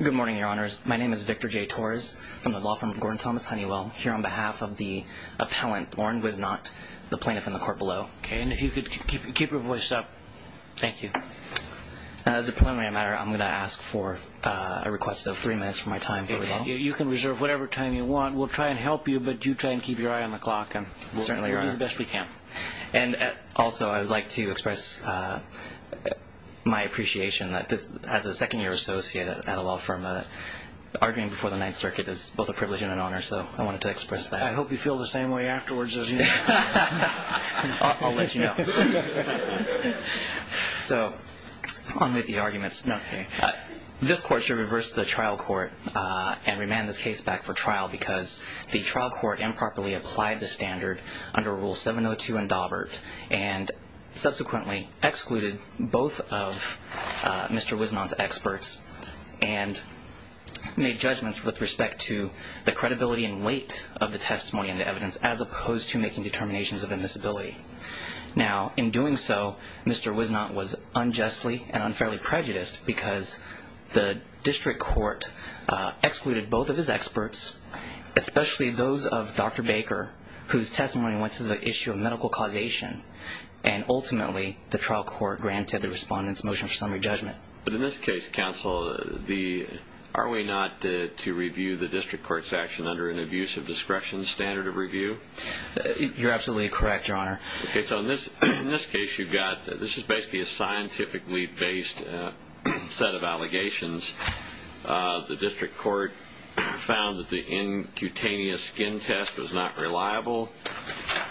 Good morning, Your Honors. My name is Victor J. Torres from the law firm of Gordon Thomas Honeywell. Here on behalf of the appellant, Lauren Wisnott, the plaintiff in the court below. Okay, and if you could keep your voice up. Thank you. As a preliminary matter, I'm going to ask for a request of three minutes for my time for rebuttal. You can reserve whatever time you want. We'll try and help you, but do try and keep your eye on the clock. Certainly, Your Honor. We'll do the best we can. And also, I would like to express my appreciation that as a second-year associate at a law firm, arguing before the Ninth Circuit is both a privilege and an honor, so I wanted to express that. I hope you feel the same way afterwards as you did. I'll let you know. So, on with the arguments. This court should reverse the trial court and remand this case back for trial because the trial court improperly applied the standard under Rule 702 in Daubert and subsequently excluded both of Mr. Wisnott's experts and made judgments with respect to the credibility and weight of the testimony and the evidence as opposed to making determinations of invisibility. Now, in doing so, Mr. Wisnott was unjustly and unfairly prejudiced because the district court excluded both of his experts, especially those of Dr. Baker, whose testimony went to the issue of medical causation, and ultimately the trial court granted the respondent's motion for summary judgment. But in this case, counsel, are we not to review the district court's action under an abusive discretion standard of review? You're absolutely correct, Your Honor. Okay, so in this case you've got, this is basically a scientifically-based set of allegations. The district court found that the incutaneous skin test was not reliable,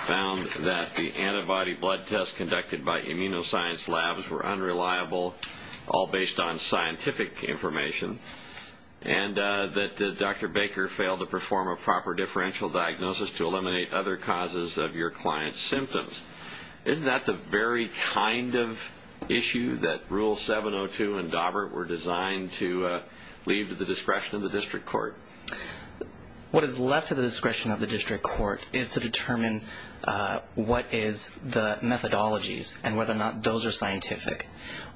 found that the antibody blood tests conducted by immunoscience labs were unreliable, all based on scientific information, and that Dr. Baker failed to perform a proper differential diagnosis to eliminate other causes of your client's symptoms. Isn't that the very kind of issue that Rule 702 and Daubert were designed to leave to the discretion of the district court? What is left to the discretion of the district court is to determine what is the methodologies and whether or not those are scientific.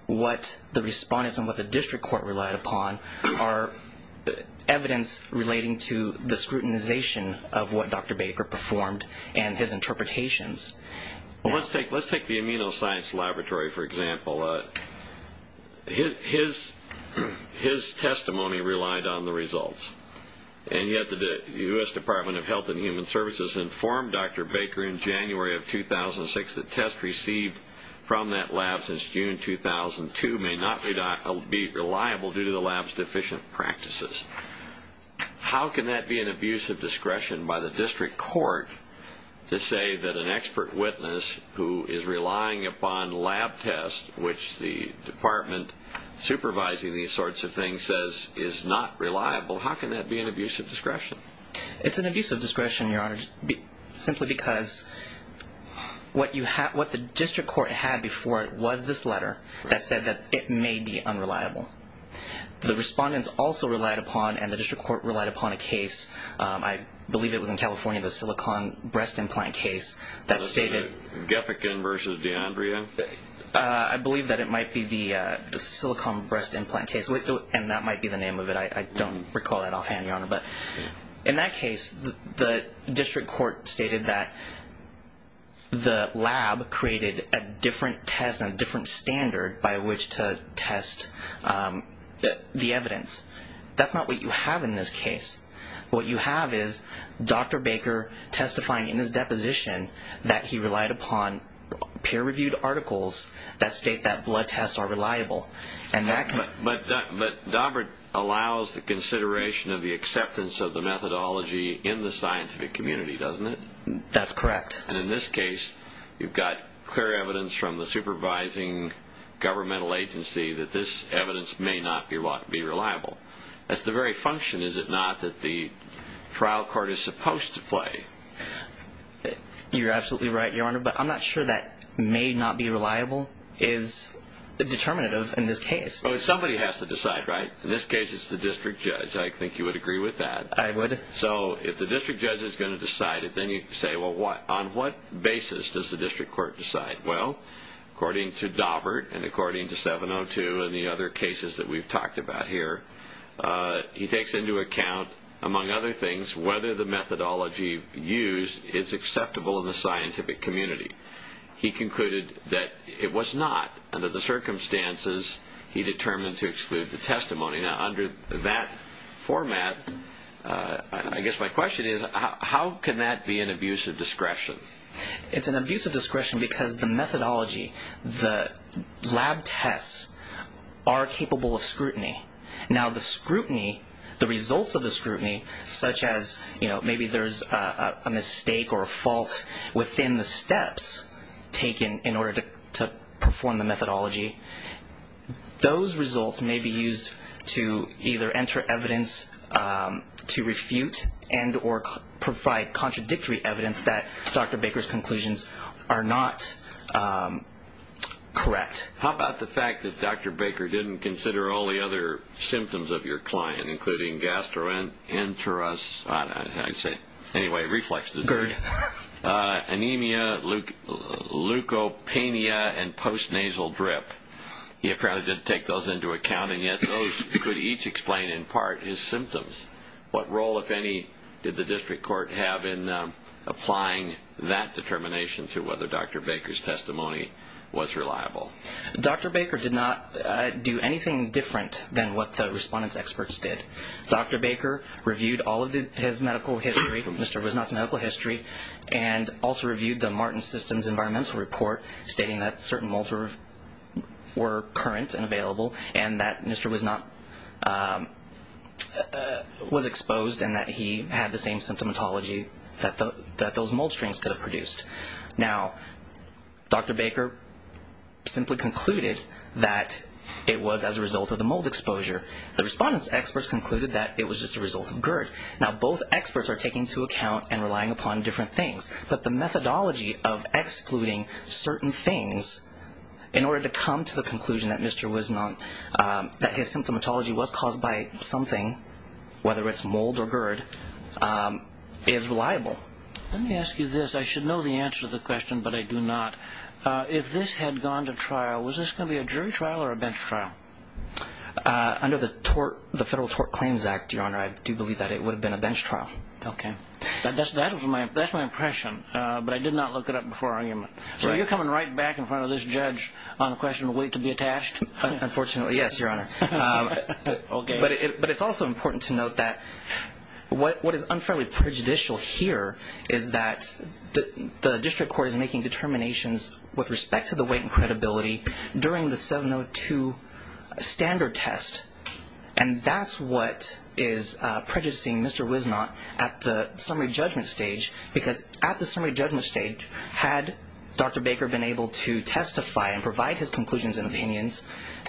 What the respondents and what the district court relied upon are evidence relating to the scrutinization of what Dr. Baker performed and his interpretations. Well, let's take the immunoscience laboratory, for example. His testimony relied on the results, and yet the U.S. Department of Health and Human Services informed Dr. Baker in January of 2006 that tests received from that lab since June 2002 may not be reliable due to the lab's deficient practices. How can that be an abuse of discretion by the district court to say that an expert witness who is relying upon lab tests, which the department supervising these sorts of things says is not reliable, how can that be an abuse of discretion? It's an abuse of discretion, Your Honor, simply because what the district court had before it was this letter that said that it may be unreliable. The respondents also relied upon, and the district court relied upon, a case. I believe it was in California, the silicon breast implant case that stated... Gethikin versus D'Andrea? I believe that it might be the silicon breast implant case, and that might be the name of it. I don't recall that offhand, Your Honor. But in that case, the district court stated that the lab created a different test and a different standard by which to test the evidence. That's not what you have in this case. What you have is Dr. Baker testifying in his deposition that he relied upon peer-reviewed articles that state that blood tests are reliable. But Daubert allows the consideration of the acceptance of the methodology in the scientific community, doesn't it? That's correct. And in this case, you've got clear evidence from the supervising governmental agency that this evidence may not be reliable. That's the very function, is it not, that the trial court is supposed to play? You're absolutely right, Your Honor. But I'm not sure that may not be reliable is determinative in this case. Well, somebody has to decide, right? In this case, it's the district judge. I think you would agree with that. I would. So if the district judge is going to decide it, then you say, well, on what basis does the district court decide? Well, according to Daubert and according to 702 and the other cases that we've talked about here, he takes into account, among other things, whether the methodology used is acceptable in the scientific community. He concluded that it was not. Under the circumstances, he determined to exclude the testimony. Now, under that format, I guess my question is how can that be an abuse of discretion? It's an abuse of discretion because the methodology, the lab tests, are capable of scrutiny. Now, the scrutiny, the results of the scrutiny, such as maybe there's a mistake or a fault within the steps taken in order to perform the methodology, those results may be used to either enter evidence to refute and or provide contradictory evidence that Dr. Baker's conclusions are not correct. How about the fact that Dr. Baker didn't consider all the other symptoms of your client, including gastroenteritis, anemia, leukopenia, and post-nasal drip? He apparently didn't take those into account, and yet those could each explain, in part, his symptoms. What role, if any, did the district court have in applying that determination to whether Dr. Baker's testimony was reliable? Dr. Baker did not do anything different than what the respondents' experts did. Dr. Baker reviewed all of his medical history, Mr. Wisnot's medical history, and also reviewed the Martin Systems environmental report, stating that certain molds were current and available, and that Mr. Wisnot was exposed and that he had the same symptomatology that those mold strings could have produced. Now, Dr. Baker simply concluded that it was as a result of the mold exposure. The respondents' experts concluded that it was just a result of GERD. Now, both experts are taking into account and relying upon different things, but the methodology of excluding certain things in order to come to the conclusion that his symptomatology was caused by something, whether it's mold or GERD, is reliable. Let me ask you this. I should know the answer to the question, but I do not. If this had gone to trial, was this going to be a jury trial or a bench trial? Under the Federal Tort Claims Act, Your Honor, I do believe that it would have been a bench trial. Okay. That's my impression, but I did not look it up before our argument. So you're coming right back in front of this judge on the question of weight to be attached? Unfortunately, yes, Your Honor. Okay. But it's also important to note that what is unfairly prejudicial here is that the district court is making determinations with respect to the weight and credibility during the 702 standard test, and that's what is prejudicing Mr. Wisnott at the summary judgment stage, because at the summary judgment stage, had Dr. Baker been able to testify and provide his conclusions and opinions,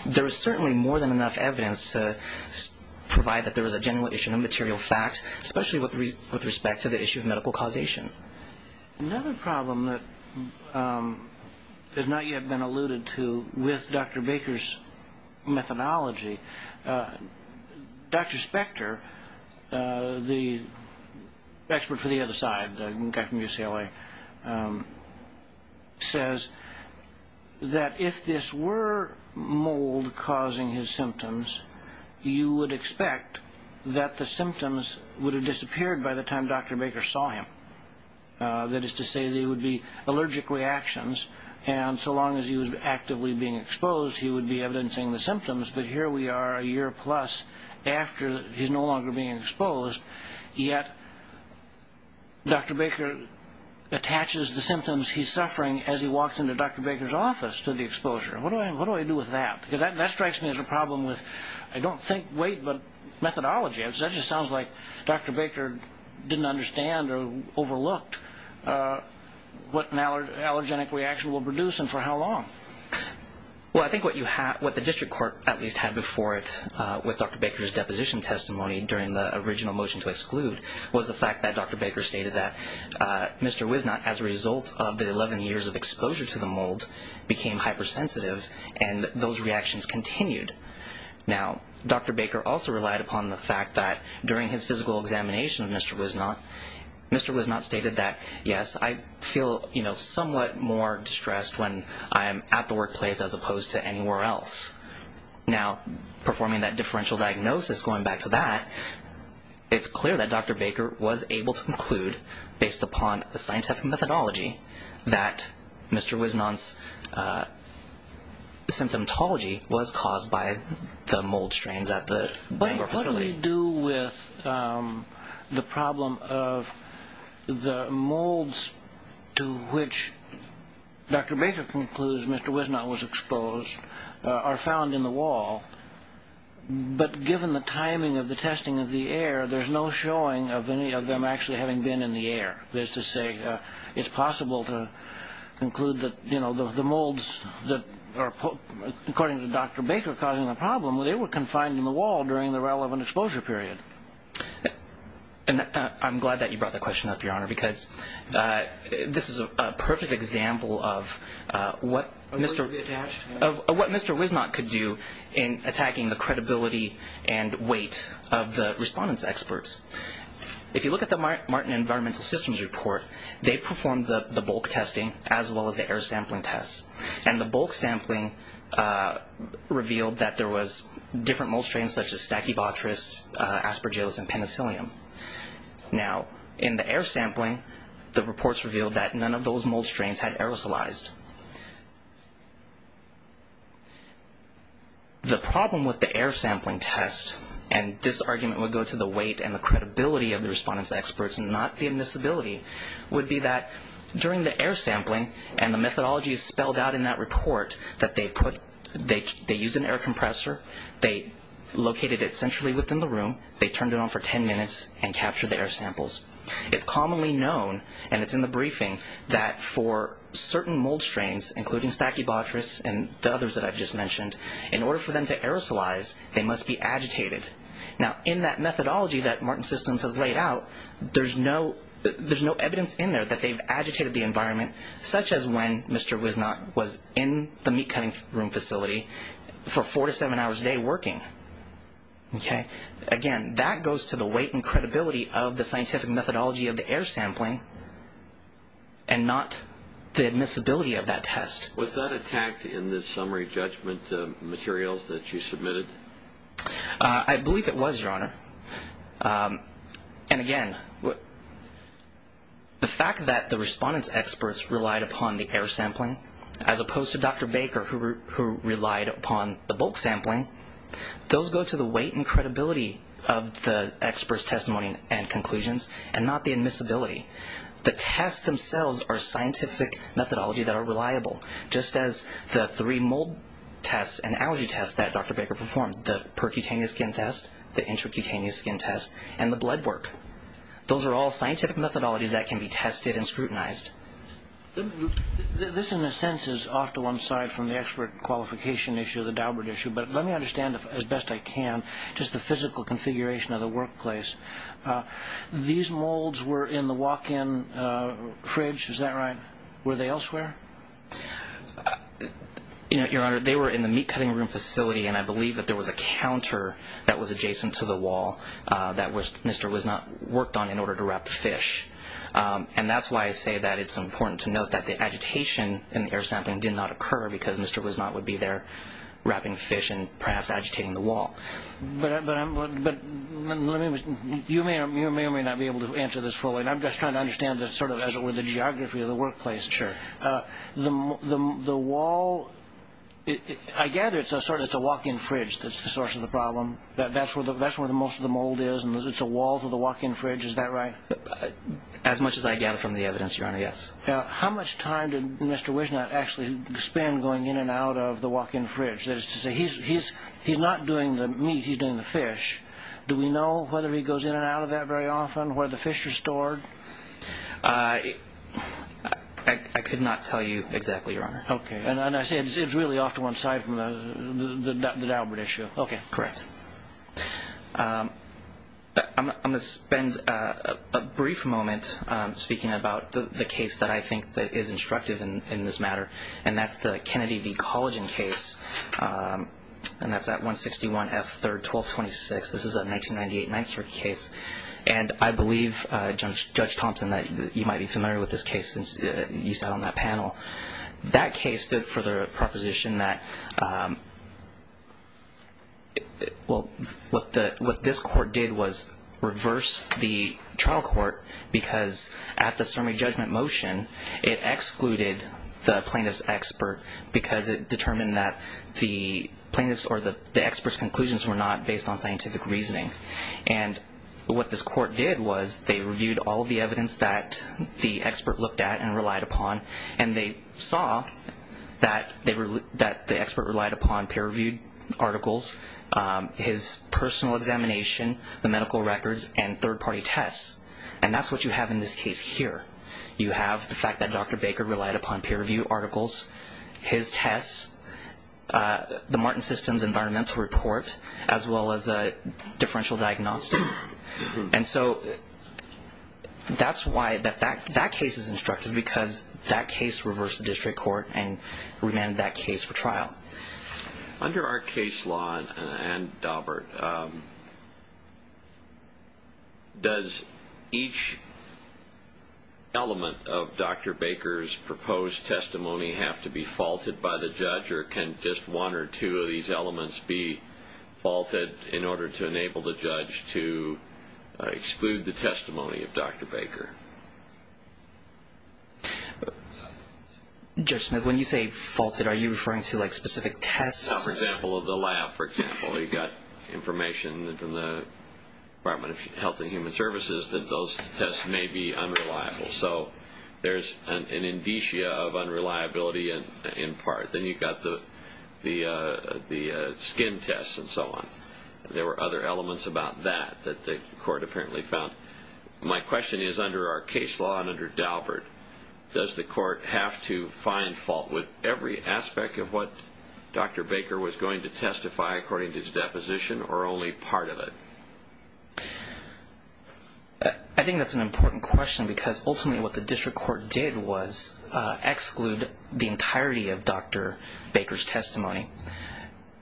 there is certainly more than enough evidence to provide that there was a genuine issue and a material fact, especially with respect to the issue of medical causation. Another problem that has not yet been alluded to with Dr. Baker's methodology, Dr. Spector, the expert for the other side, the guy from UCLA, says that if this were mold causing his symptoms, you would expect that the symptoms would have disappeared by the time Dr. Baker saw him. That is to say, there would be allergic reactions, and so long as he was actively being exposed, he would be evidencing the symptoms, but here we are a year plus after he's no longer being exposed, yet Dr. Baker attaches the symptoms he's suffering as he walks into Dr. Baker's office to the exposure. What do I do with that? Because that strikes me as a problem with, I don't think weight, but methodology. That just sounds like Dr. Baker didn't understand or overlooked what an allergenic reaction will produce and for how long. Well, I think what the district court at least had before it with Dr. Baker's deposition testimony during the original motion to exclude was the fact that Dr. Baker stated that Mr. Wisnott, as a result of the 11 years of exposure to the mold, became hypersensitive and those reactions continued. Now, Dr. Baker also relied upon the fact that during his physical examination of Mr. Wisnott, Mr. Wisnott stated that, yes, I feel somewhat more distressed when I am at the workplace as opposed to anywhere else. Now, performing that differential diagnosis, going back to that, it's clear that Dr. Baker was able to conclude, based upon the scientific methodology, that Mr. Wisnott's symptomatology was caused by the mold strains at the Bangor facility. But what do we do with the problem of the molds to which Dr. Baker concludes Mr. Wisnott was exposed are found in the wall, but given the timing of the testing of the air, there's no showing of any of them actually having been in the air. That is to say, it's possible to conclude that the molds that are, according to Dr. Baker, causing the problem, they were confined in the wall during the relevant exposure period. I'm glad that you brought that question up, Your Honor, because this is a perfect example of what Mr. Wisnott could do in attacking the credibility and weight of the respondents' experts. If you look at the Martin Environmental Systems report, they performed the bulk testing as well as the air sampling tests. And the bulk sampling revealed that there was different mold strains such as stachybotrys, aspergillus, and penicillium. Now, in the air sampling, the reports revealed that none of those mold strains had aerosolized. The problem with the air sampling test, and this argument would go to the weight and the credibility of the respondents' experts and not the admissibility, would be that during the air sampling, and the methodology is spelled out in that report, that they used an air compressor, they located it centrally within the room, they turned it on for 10 minutes, and captured the air samples. It's commonly known, and it's in the briefing, that for certain mold strains, including stachybotrys and the others that I've just mentioned, in order for them to aerosolize, they must be agitated. Now, in that methodology that Martin Systems has laid out, there's no evidence in there that they've agitated the environment, such as when Mr. Wisnott was in the meat cutting room facility for four to seven hours a day working. Again, that goes to the weight and credibility of the scientific methodology of the air sampling, and not the admissibility of that test. Was that attacked in the summary judgment materials that you submitted? I believe it was, Your Honor. And again, the fact that the respondents' experts relied upon the air sampling, as opposed to Dr. Baker, who relied upon the bulk sampling, those go to the weight and credibility of the experts' testimony and conclusions, and not the admissibility. The tests themselves are scientific methodology that are reliable, just as the three mold tests and allergy tests that Dr. Baker performed, the percutaneous skin test, the intracutaneous skin test, and the blood work. Those are all scientific methodologies that can be tested and scrutinized. This, in a sense, is off to one side from the expert qualification issue, the Daubert issue, but let me understand as best I can just the physical configuration of the workplace. These molds were in the walk-in fridge, is that right? Were they elsewhere? Your Honor, they were in the meat cutting room facility, and I believe that there was a counter that was adjacent to the wall that Mr. Wisnott worked on in order to wrap fish. And that's why I say that it's important to note that the agitation in the air sampling did not occur because Mr. Wisnott would be there wrapping fish and perhaps agitating the wall. But you may or may not be able to answer this fully, and I'm just trying to understand sort of as it were the geography of the workplace. Sure. The wall, I gather it's a walk-in fridge that's the source of the problem. That's where most of the mold is, and it's a wall to the walk-in fridge, is that right? As much as I gather from the evidence, Your Honor, yes. How much time did Mr. Wisnott actually spend going in and out of the walk-in fridge? That is to say, he's not doing the meat, he's doing the fish. Do we know whether he goes in and out of that very often, where the fish are stored? I could not tell you exactly, Your Honor. Okay. And I say it's really off to one side from the Daubert issue. Okay. Correct. I'm going to spend a brief moment speaking about the case that I think is instructive in this matter, and that's the Kennedy v. Collagen case, and that's at 161 F. 3rd, 1226. This is a 1998 Ninth Circuit case, and I believe, Judge Thompson, that you might be familiar with this case since you sat on that panel. That case stood for the proposition that, well, what this court did was reverse the trial court because at the summary judgment motion, it excluded the plaintiff's expert because it determined that the plaintiff's or the expert's conclusions were not based on scientific reasoning. And what this court did was they reviewed all the evidence that the expert looked at and relied upon, and they saw that the expert relied upon peer-reviewed articles, his personal examination, the medical records, and third-party tests. And that's what you have in this case here. You have the fact that Dr. Baker relied upon peer-reviewed articles, his tests, the Martin Systems environmental report, as well as a differential diagnostic. And so that's why that case is instructive, because that case reversed the district court and remanded that case for trial. Under our case law and Daubert, does each element of Dr. Baker's proposed testimony have to be faulted by the judge, or can just one or two of these elements be faulted in order to enable the judge to exclude the testimony of Dr. Baker? Judge Smith, when you say faulted, are you referring to, like, specific tests? Well, for example, the lab, for example. You've got information from the Department of Health and Human Services that those tests may be unreliable. So there's an indicia of unreliability in part. Then you've got the skin tests and so on. There were other elements about that that the court apparently found. My question is, under our case law and under Daubert, does the court have to find fault with every aspect of what Dr. Baker was going to testify according to his deposition, or only part of it? I think that's an important question, because ultimately what the district court did was exclude the entirety of Dr. Baker's testimony.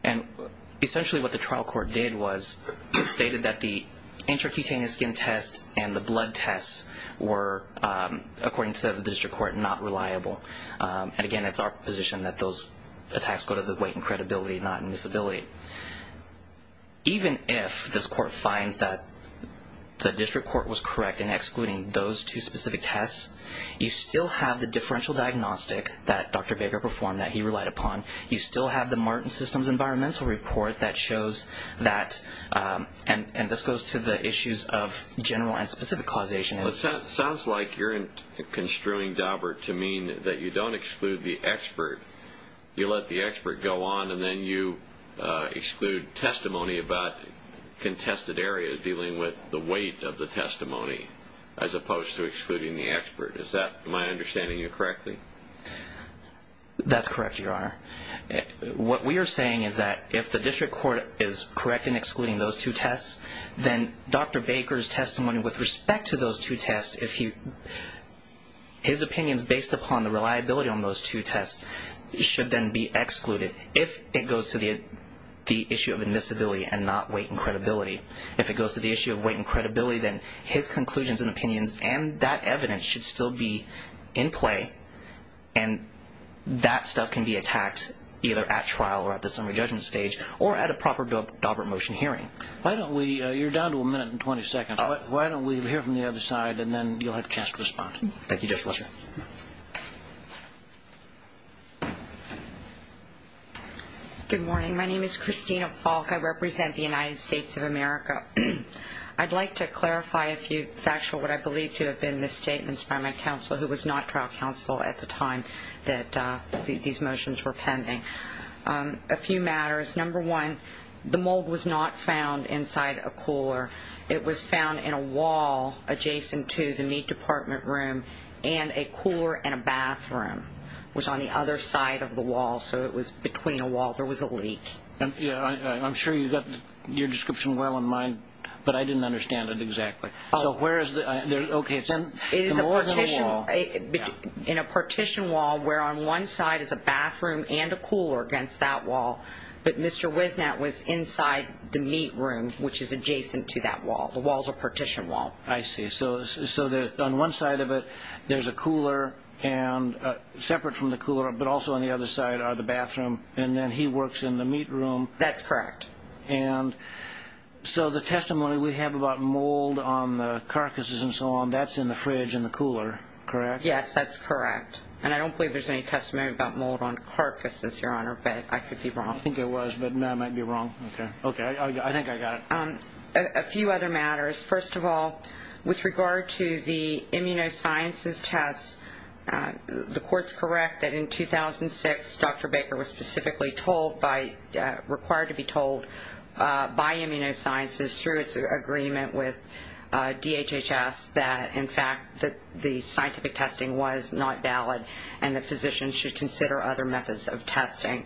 And essentially what the trial court did was stated that the intracutaneous skin tests and the blood tests were, according to the district court, not reliable. And again, it's our position that those attacks go to the weight in credibility, not in disability. Even if this court finds that the district court was correct in excluding those two specific tests, you still have the differential diagnostic that Dr. Baker performed that he relied upon. You still have the Martin Systems environmental report that shows that, and this goes to the issues of general and specific causation. It sounds like you're construing Daubert to mean that you don't exclude the expert. You let the expert go on and then you exclude testimony about contested areas dealing with the weight of the testimony, as opposed to excluding the expert. Is that my understanding of you correctly? That's correct, Your Honor. What we are saying is that if the district court is correct in excluding those two tests, then Dr. Baker's testimony with respect to those two tests, his opinions based upon the reliability on those two tests should then be excluded if it goes to the issue of admissibility and not weight and credibility. If it goes to the issue of weight and credibility, then his conclusions and opinions and that evidence should still be in play, and that stuff can be attacked either at trial or at the summary judgment stage or at a proper Daubert motion hearing. You're down to a minute and 20 seconds. Why don't we hear from the other side, and then you'll have a chance to respond. Thank you, Justice Walker. Good morning. My name is Christina Falk. I represent the United States of America. I'd like to clarify a few factual what I believe to have been the statements by my counsel, who was not trial counsel at the time that these motions were pending. A few matters. Number one, the mold was not found inside a cooler. It was found in a wall adjacent to the meat department room, and a cooler and a bathroom was on the other side of the wall, so it was between a wall. There was a leak. I'm sure you got your description well in mind, but I didn't understand it exactly. So where is the ñ okay, it's more than a wall. It is a partition wall where on one side is a bathroom and a cooler against that wall, but Mr. Wisnet was inside the meat room, which is adjacent to that wall. The wall is a partition wall. I see. So on one side of it there's a cooler, and separate from the cooler, but also on the other side are the bathroom, and then he works in the meat room. That's correct. And so the testimony we have about mold on the carcasses and so on, that's in the fridge and the cooler, correct? Yes, that's correct. And I don't believe there's any testimony about mold on carcasses, Your Honor, but I could be wrong. I think there was, but I might be wrong. Okay. I think I got it. A few other matters. First of all, with regard to the immunosciences test, the court's correct that in 2006 Dr. Baker was specifically required to be told by immunosciences through its agreement with DHHS that, in fact, the scientific testing was not valid and that physicians should consider other methods of testing.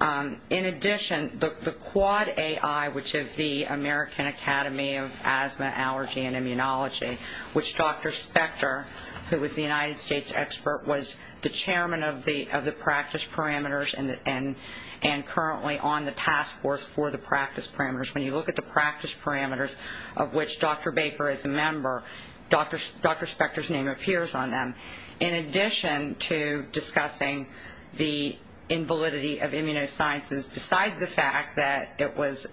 In addition, the Quad AI, which is the American Academy of Asthma, Allergy, and Immunology, which Dr. Spector, who was the United States expert, was the chairman of the practice parameters and currently on the task force for the practice parameters. When you look at the practice parameters of which Dr. Baker is a member, Dr. Spector's name appears on them. In addition to discussing the invalidity of immunosciences, besides the fact that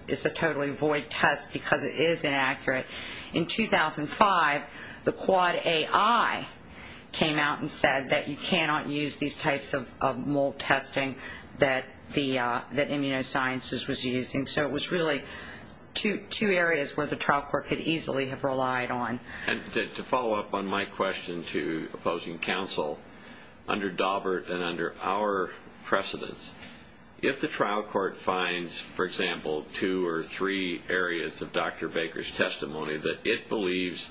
it's a totally void test because it is inaccurate, in 2005 the Quad AI came out and said that you cannot use these types of mold testing that immunosciences was using. So it was really two areas where the trial court could easily have relied on. To follow up on my question to opposing counsel, under Daubert and under our precedence, if the trial court finds, for example, two or three areas of Dr. Baker's testimony that it believes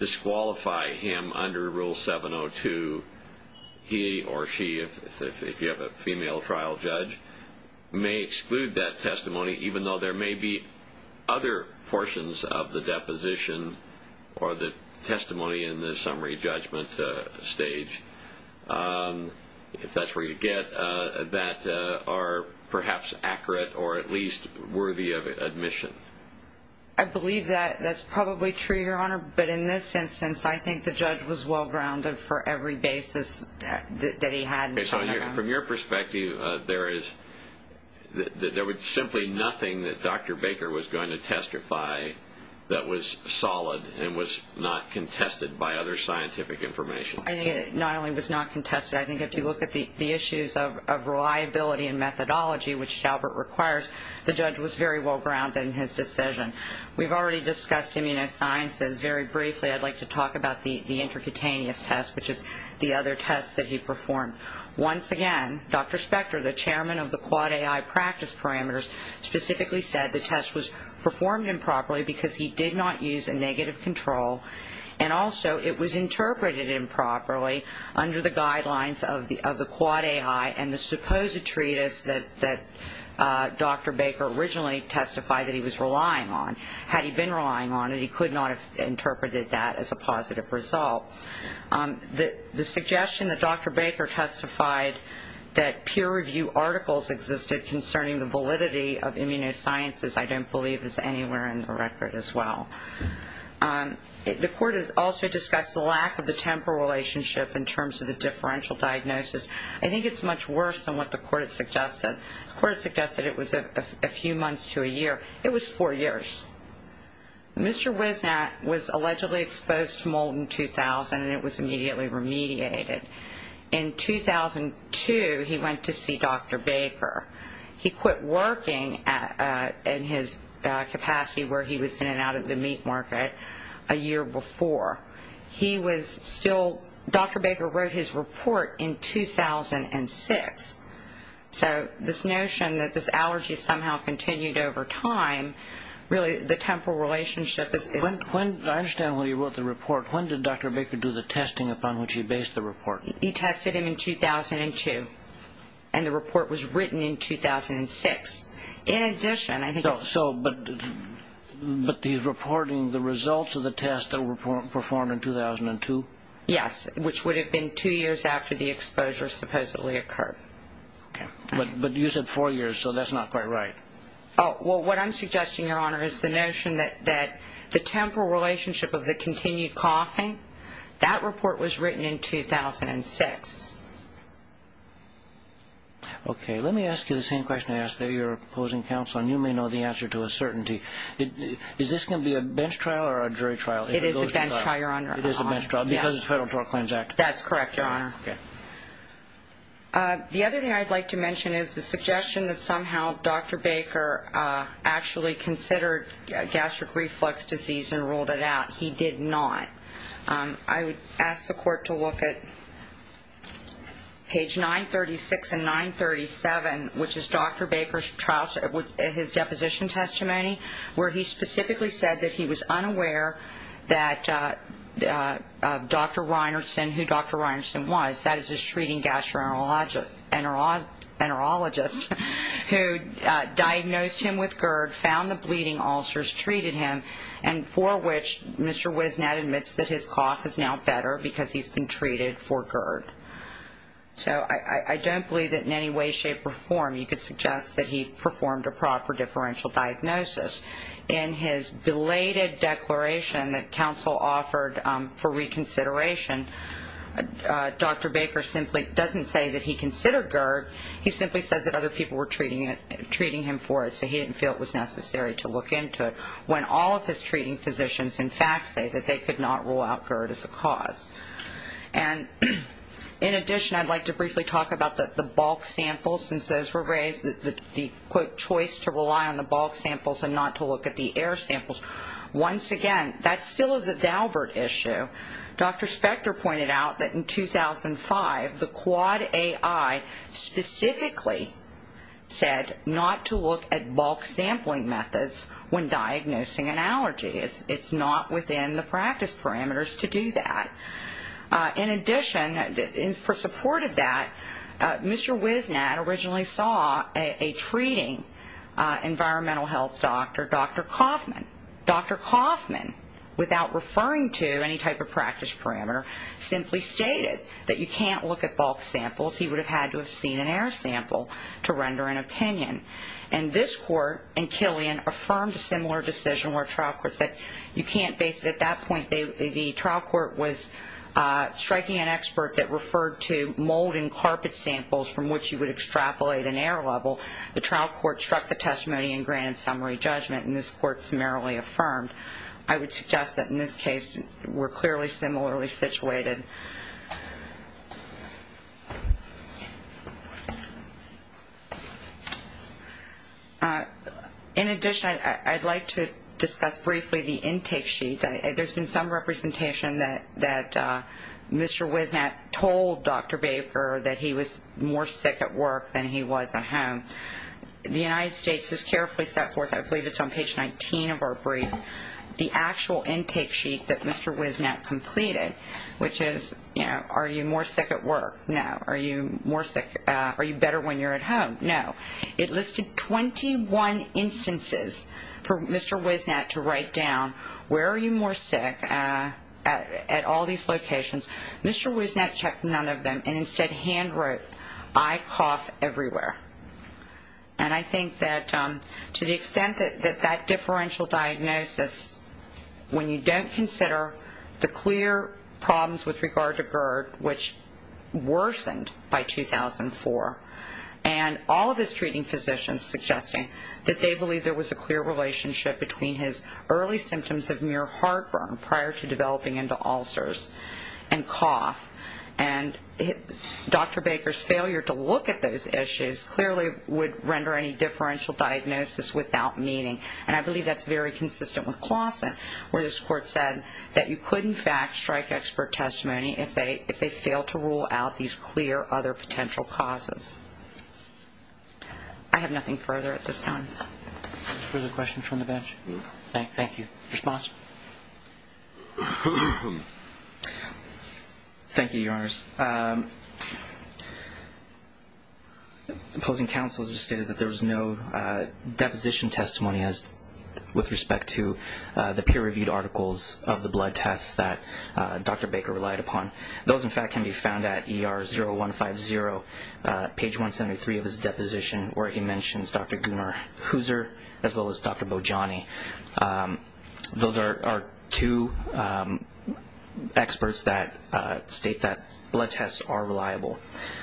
disqualify him under Rule 702, he or she, if you have a female trial judge, may exclude that testimony even though there may be other portions of the deposition or the testimony in the summary judgment stage, if that's where you get, that are perhaps accurate or at least worthy of admission. I believe that's probably true, Your Honor, but in this instance I think the judge was well-grounded for every basis that he had. Okay, so from your perspective, there is simply nothing that Dr. Baker was going to testify that was solid and was not contested by other scientific information? Not only was not contested, I think if you look at the issues of reliability and methodology, which Daubert requires, the judge was very well-grounded in his decision. We've already discussed immunosciences very briefly. I'd like to talk about the intercutaneous test, which is the other test that he performed. Once again, Dr. Spector, the chairman of the Quad AI practice parameters, specifically said the test was performed improperly because he did not use a negative control, and also it was interpreted improperly under the guidelines of the Quad AI and the supposed treatise that Dr. Baker originally testified that he was relying on. Had he been relying on it, he could not have interpreted that as a positive result. The suggestion that Dr. Baker testified that peer review articles existed concerning the validity of immunosciences I don't believe is anywhere in the record as well. The court has also discussed the lack of the temporal relationship in terms of the differential diagnosis. I think it's much worse than what the court had suggested. The court suggested it was a few months to a year. It was four years. Mr. Wisnatt was allegedly exposed to mold in 2000, and it was immediately remediated. In 2002, he went to see Dr. Baker. He quit working in his capacity where he was in and out of the meat market a year before. He was still Dr. Baker wrote his report in 2006. So this notion that this allergy somehow continued over time, really the temporal relationship is- I understand when he wrote the report. When did Dr. Baker do the testing upon which he based the report? He tested him in 2002, and the report was written in 2006. In addition, I think- But the reporting, the results of the test that were performed in 2002? Yes, which would have been two years after the exposure supposedly occurred. Okay, but you said four years, so that's not quite right. Well, what I'm suggesting, Your Honor, is the notion that the temporal relationship of the continued coughing, that report was written in 2006. Okay, let me ask you the same question I asked the opposing counsel, and you may know the answer to a certainty. Is this going to be a bench trial or a jury trial? It is a bench trial, Your Honor. It is a bench trial because of the Federal Drug Claims Act. That's correct, Your Honor. The other thing I'd like to mention is the suggestion that somehow Dr. Baker actually considered gastric reflux disease and ruled it out. He did not. I would ask the court to look at page 936 and 937, which is Dr. Baker's trial-his deposition testimony, where he specifically said that he was unaware that Dr. Reinertsen, who Dr. Reinertsen was, that is his treating gastroenterologist, who diagnosed him with GERD, found the bleeding ulcers, treated him, and for which Mr. Wisnet admits that his cough is now better because he's been treated for GERD. So I don't believe that in any way, shape, or form you could suggest that he performed a proper differential diagnosis. In his belated declaration that counsel offered for reconsideration, Dr. Baker simply doesn't say that he considered GERD. He simply says that other people were treating him for it, so he didn't feel it was necessary to look into it, when all of his treating physicians, in fact, say that they could not rule out GERD as a cause. And in addition, I'd like to briefly talk about the bulk samples, since those were raised, the, quote, choice to rely on the bulk samples and not to look at the air samples. Once again, that still is a Daubert issue. Dr. Spector pointed out that in 2005, the Quad AI specifically said not to look at bulk sampling methods when diagnosing an allergy. It's not within the practice parameters to do that. In addition, for support of that, Mr. Wisnatt originally saw a treating environmental health doctor, Dr. Kaufman. Dr. Kaufman, without referring to any type of practice parameter, simply stated that you can't look at bulk samples. He would have had to have seen an air sample to render an opinion. And this court in Killian affirmed a similar decision where a trial court said you can't base it at that point. The trial court was striking an expert that referred to mold in carpet samples from which you would extrapolate an air level. The trial court struck the testimony and granted summary judgment, and this court summarily affirmed. I would suggest that in this case, we're clearly similarly situated. In addition, I'd like to discuss briefly the intake sheet. There's been some representation that Mr. Wisnatt told Dr. Baker that he was more sick at work than he was at home. The United States has carefully set forth, I believe it's on page 19 of our brief, the actual intake sheet that Mr. Wisnatt completed, which is, you know, are you more sick at work? No. Are you better when you're at home? No. It listed 21 instances for Mr. Wisnatt to write down where are you more sick at all these locations. Mr. Wisnatt checked none of them and instead hand wrote, I cough everywhere. And I think that to the extent that that differential diagnosis, when you don't consider the clear problems with regard to GERD, which worsened by 2004, and all of his treating physicians suggesting that they believe there was a clear relationship between his early symptoms of mere heartburn prior to developing into ulcers and cough, and Dr. Baker's failure to look at those issues clearly would render any differential diagnosis without meaning. And I believe that's very consistent with Claussen, where this court said that you could, in fact, strike expert testimony if they fail to rule out these clear other potential causes. I have nothing further at this time. Further questions from the bench? No. Thank you. Response? Thank you, Your Honors. Opposing counsel has stated that there was no deposition testimony with respect to the peer-reviewed articles of the blood tests that Dr. Baker relied upon. Those, in fact, can be found at ER0150, page 173 of his deposition, where he mentions Dr. Gunnar Huser as well as Dr. Bojani. Those are two experts that state that blood tests are reliable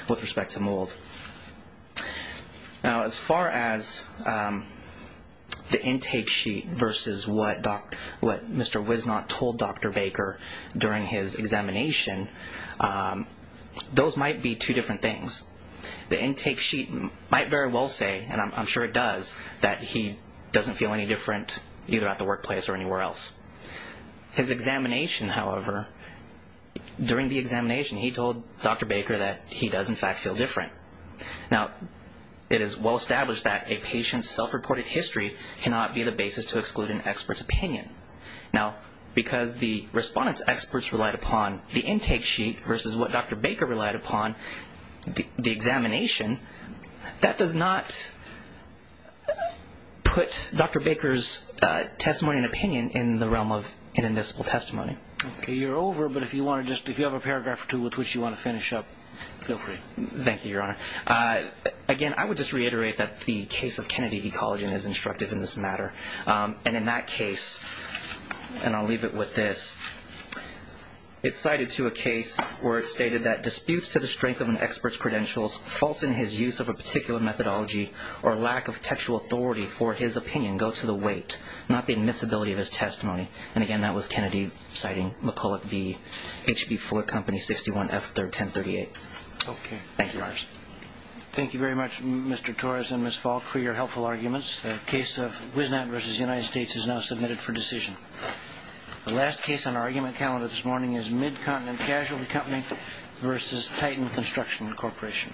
with respect to mold. Now, as far as the intake sheet versus what Mr. Wisnot told Dr. Baker during his examination, those might be two different things. The intake sheet might very well say, and I'm sure it does, that he doesn't feel any different either at the workplace or anywhere else. His examination, however, during the examination, he told Dr. Baker that he does, in fact, feel different. Now, it is well established that a patient's self-reported history cannot be the basis to exclude an expert's opinion. Now, because the respondent's experts relied upon the intake sheet versus what Dr. Baker relied upon, the examination, that does not put Dr. Baker's testimony and opinion in the realm of inadmissible testimony. Okay, you're over, but if you have a paragraph or two with which you want to finish up, feel free. Thank you, Your Honor. Again, I would just reiterate that the case of Kennedy Ecology is instructive in this matter, and in that case, and I'll leave it with this, it's cited to a case where it stated that disputes to the strength of an expert's credentials, faults in his use of a particular methodology, or lack of textual authority for his opinion go to the weight, not the admissibility of his testimony. And again, that was Kennedy citing McCulloch v. HB 4, Company 61, F3, 1038. Thank you. Thank you very much, Mr. Torres and Ms. Falk, for your helpful arguments. The case of Wisnat v. United States is now submitted for decision. The last case on our argument calendar this morning is Midcontinent Casualty Company v. Titan Construction Corporation.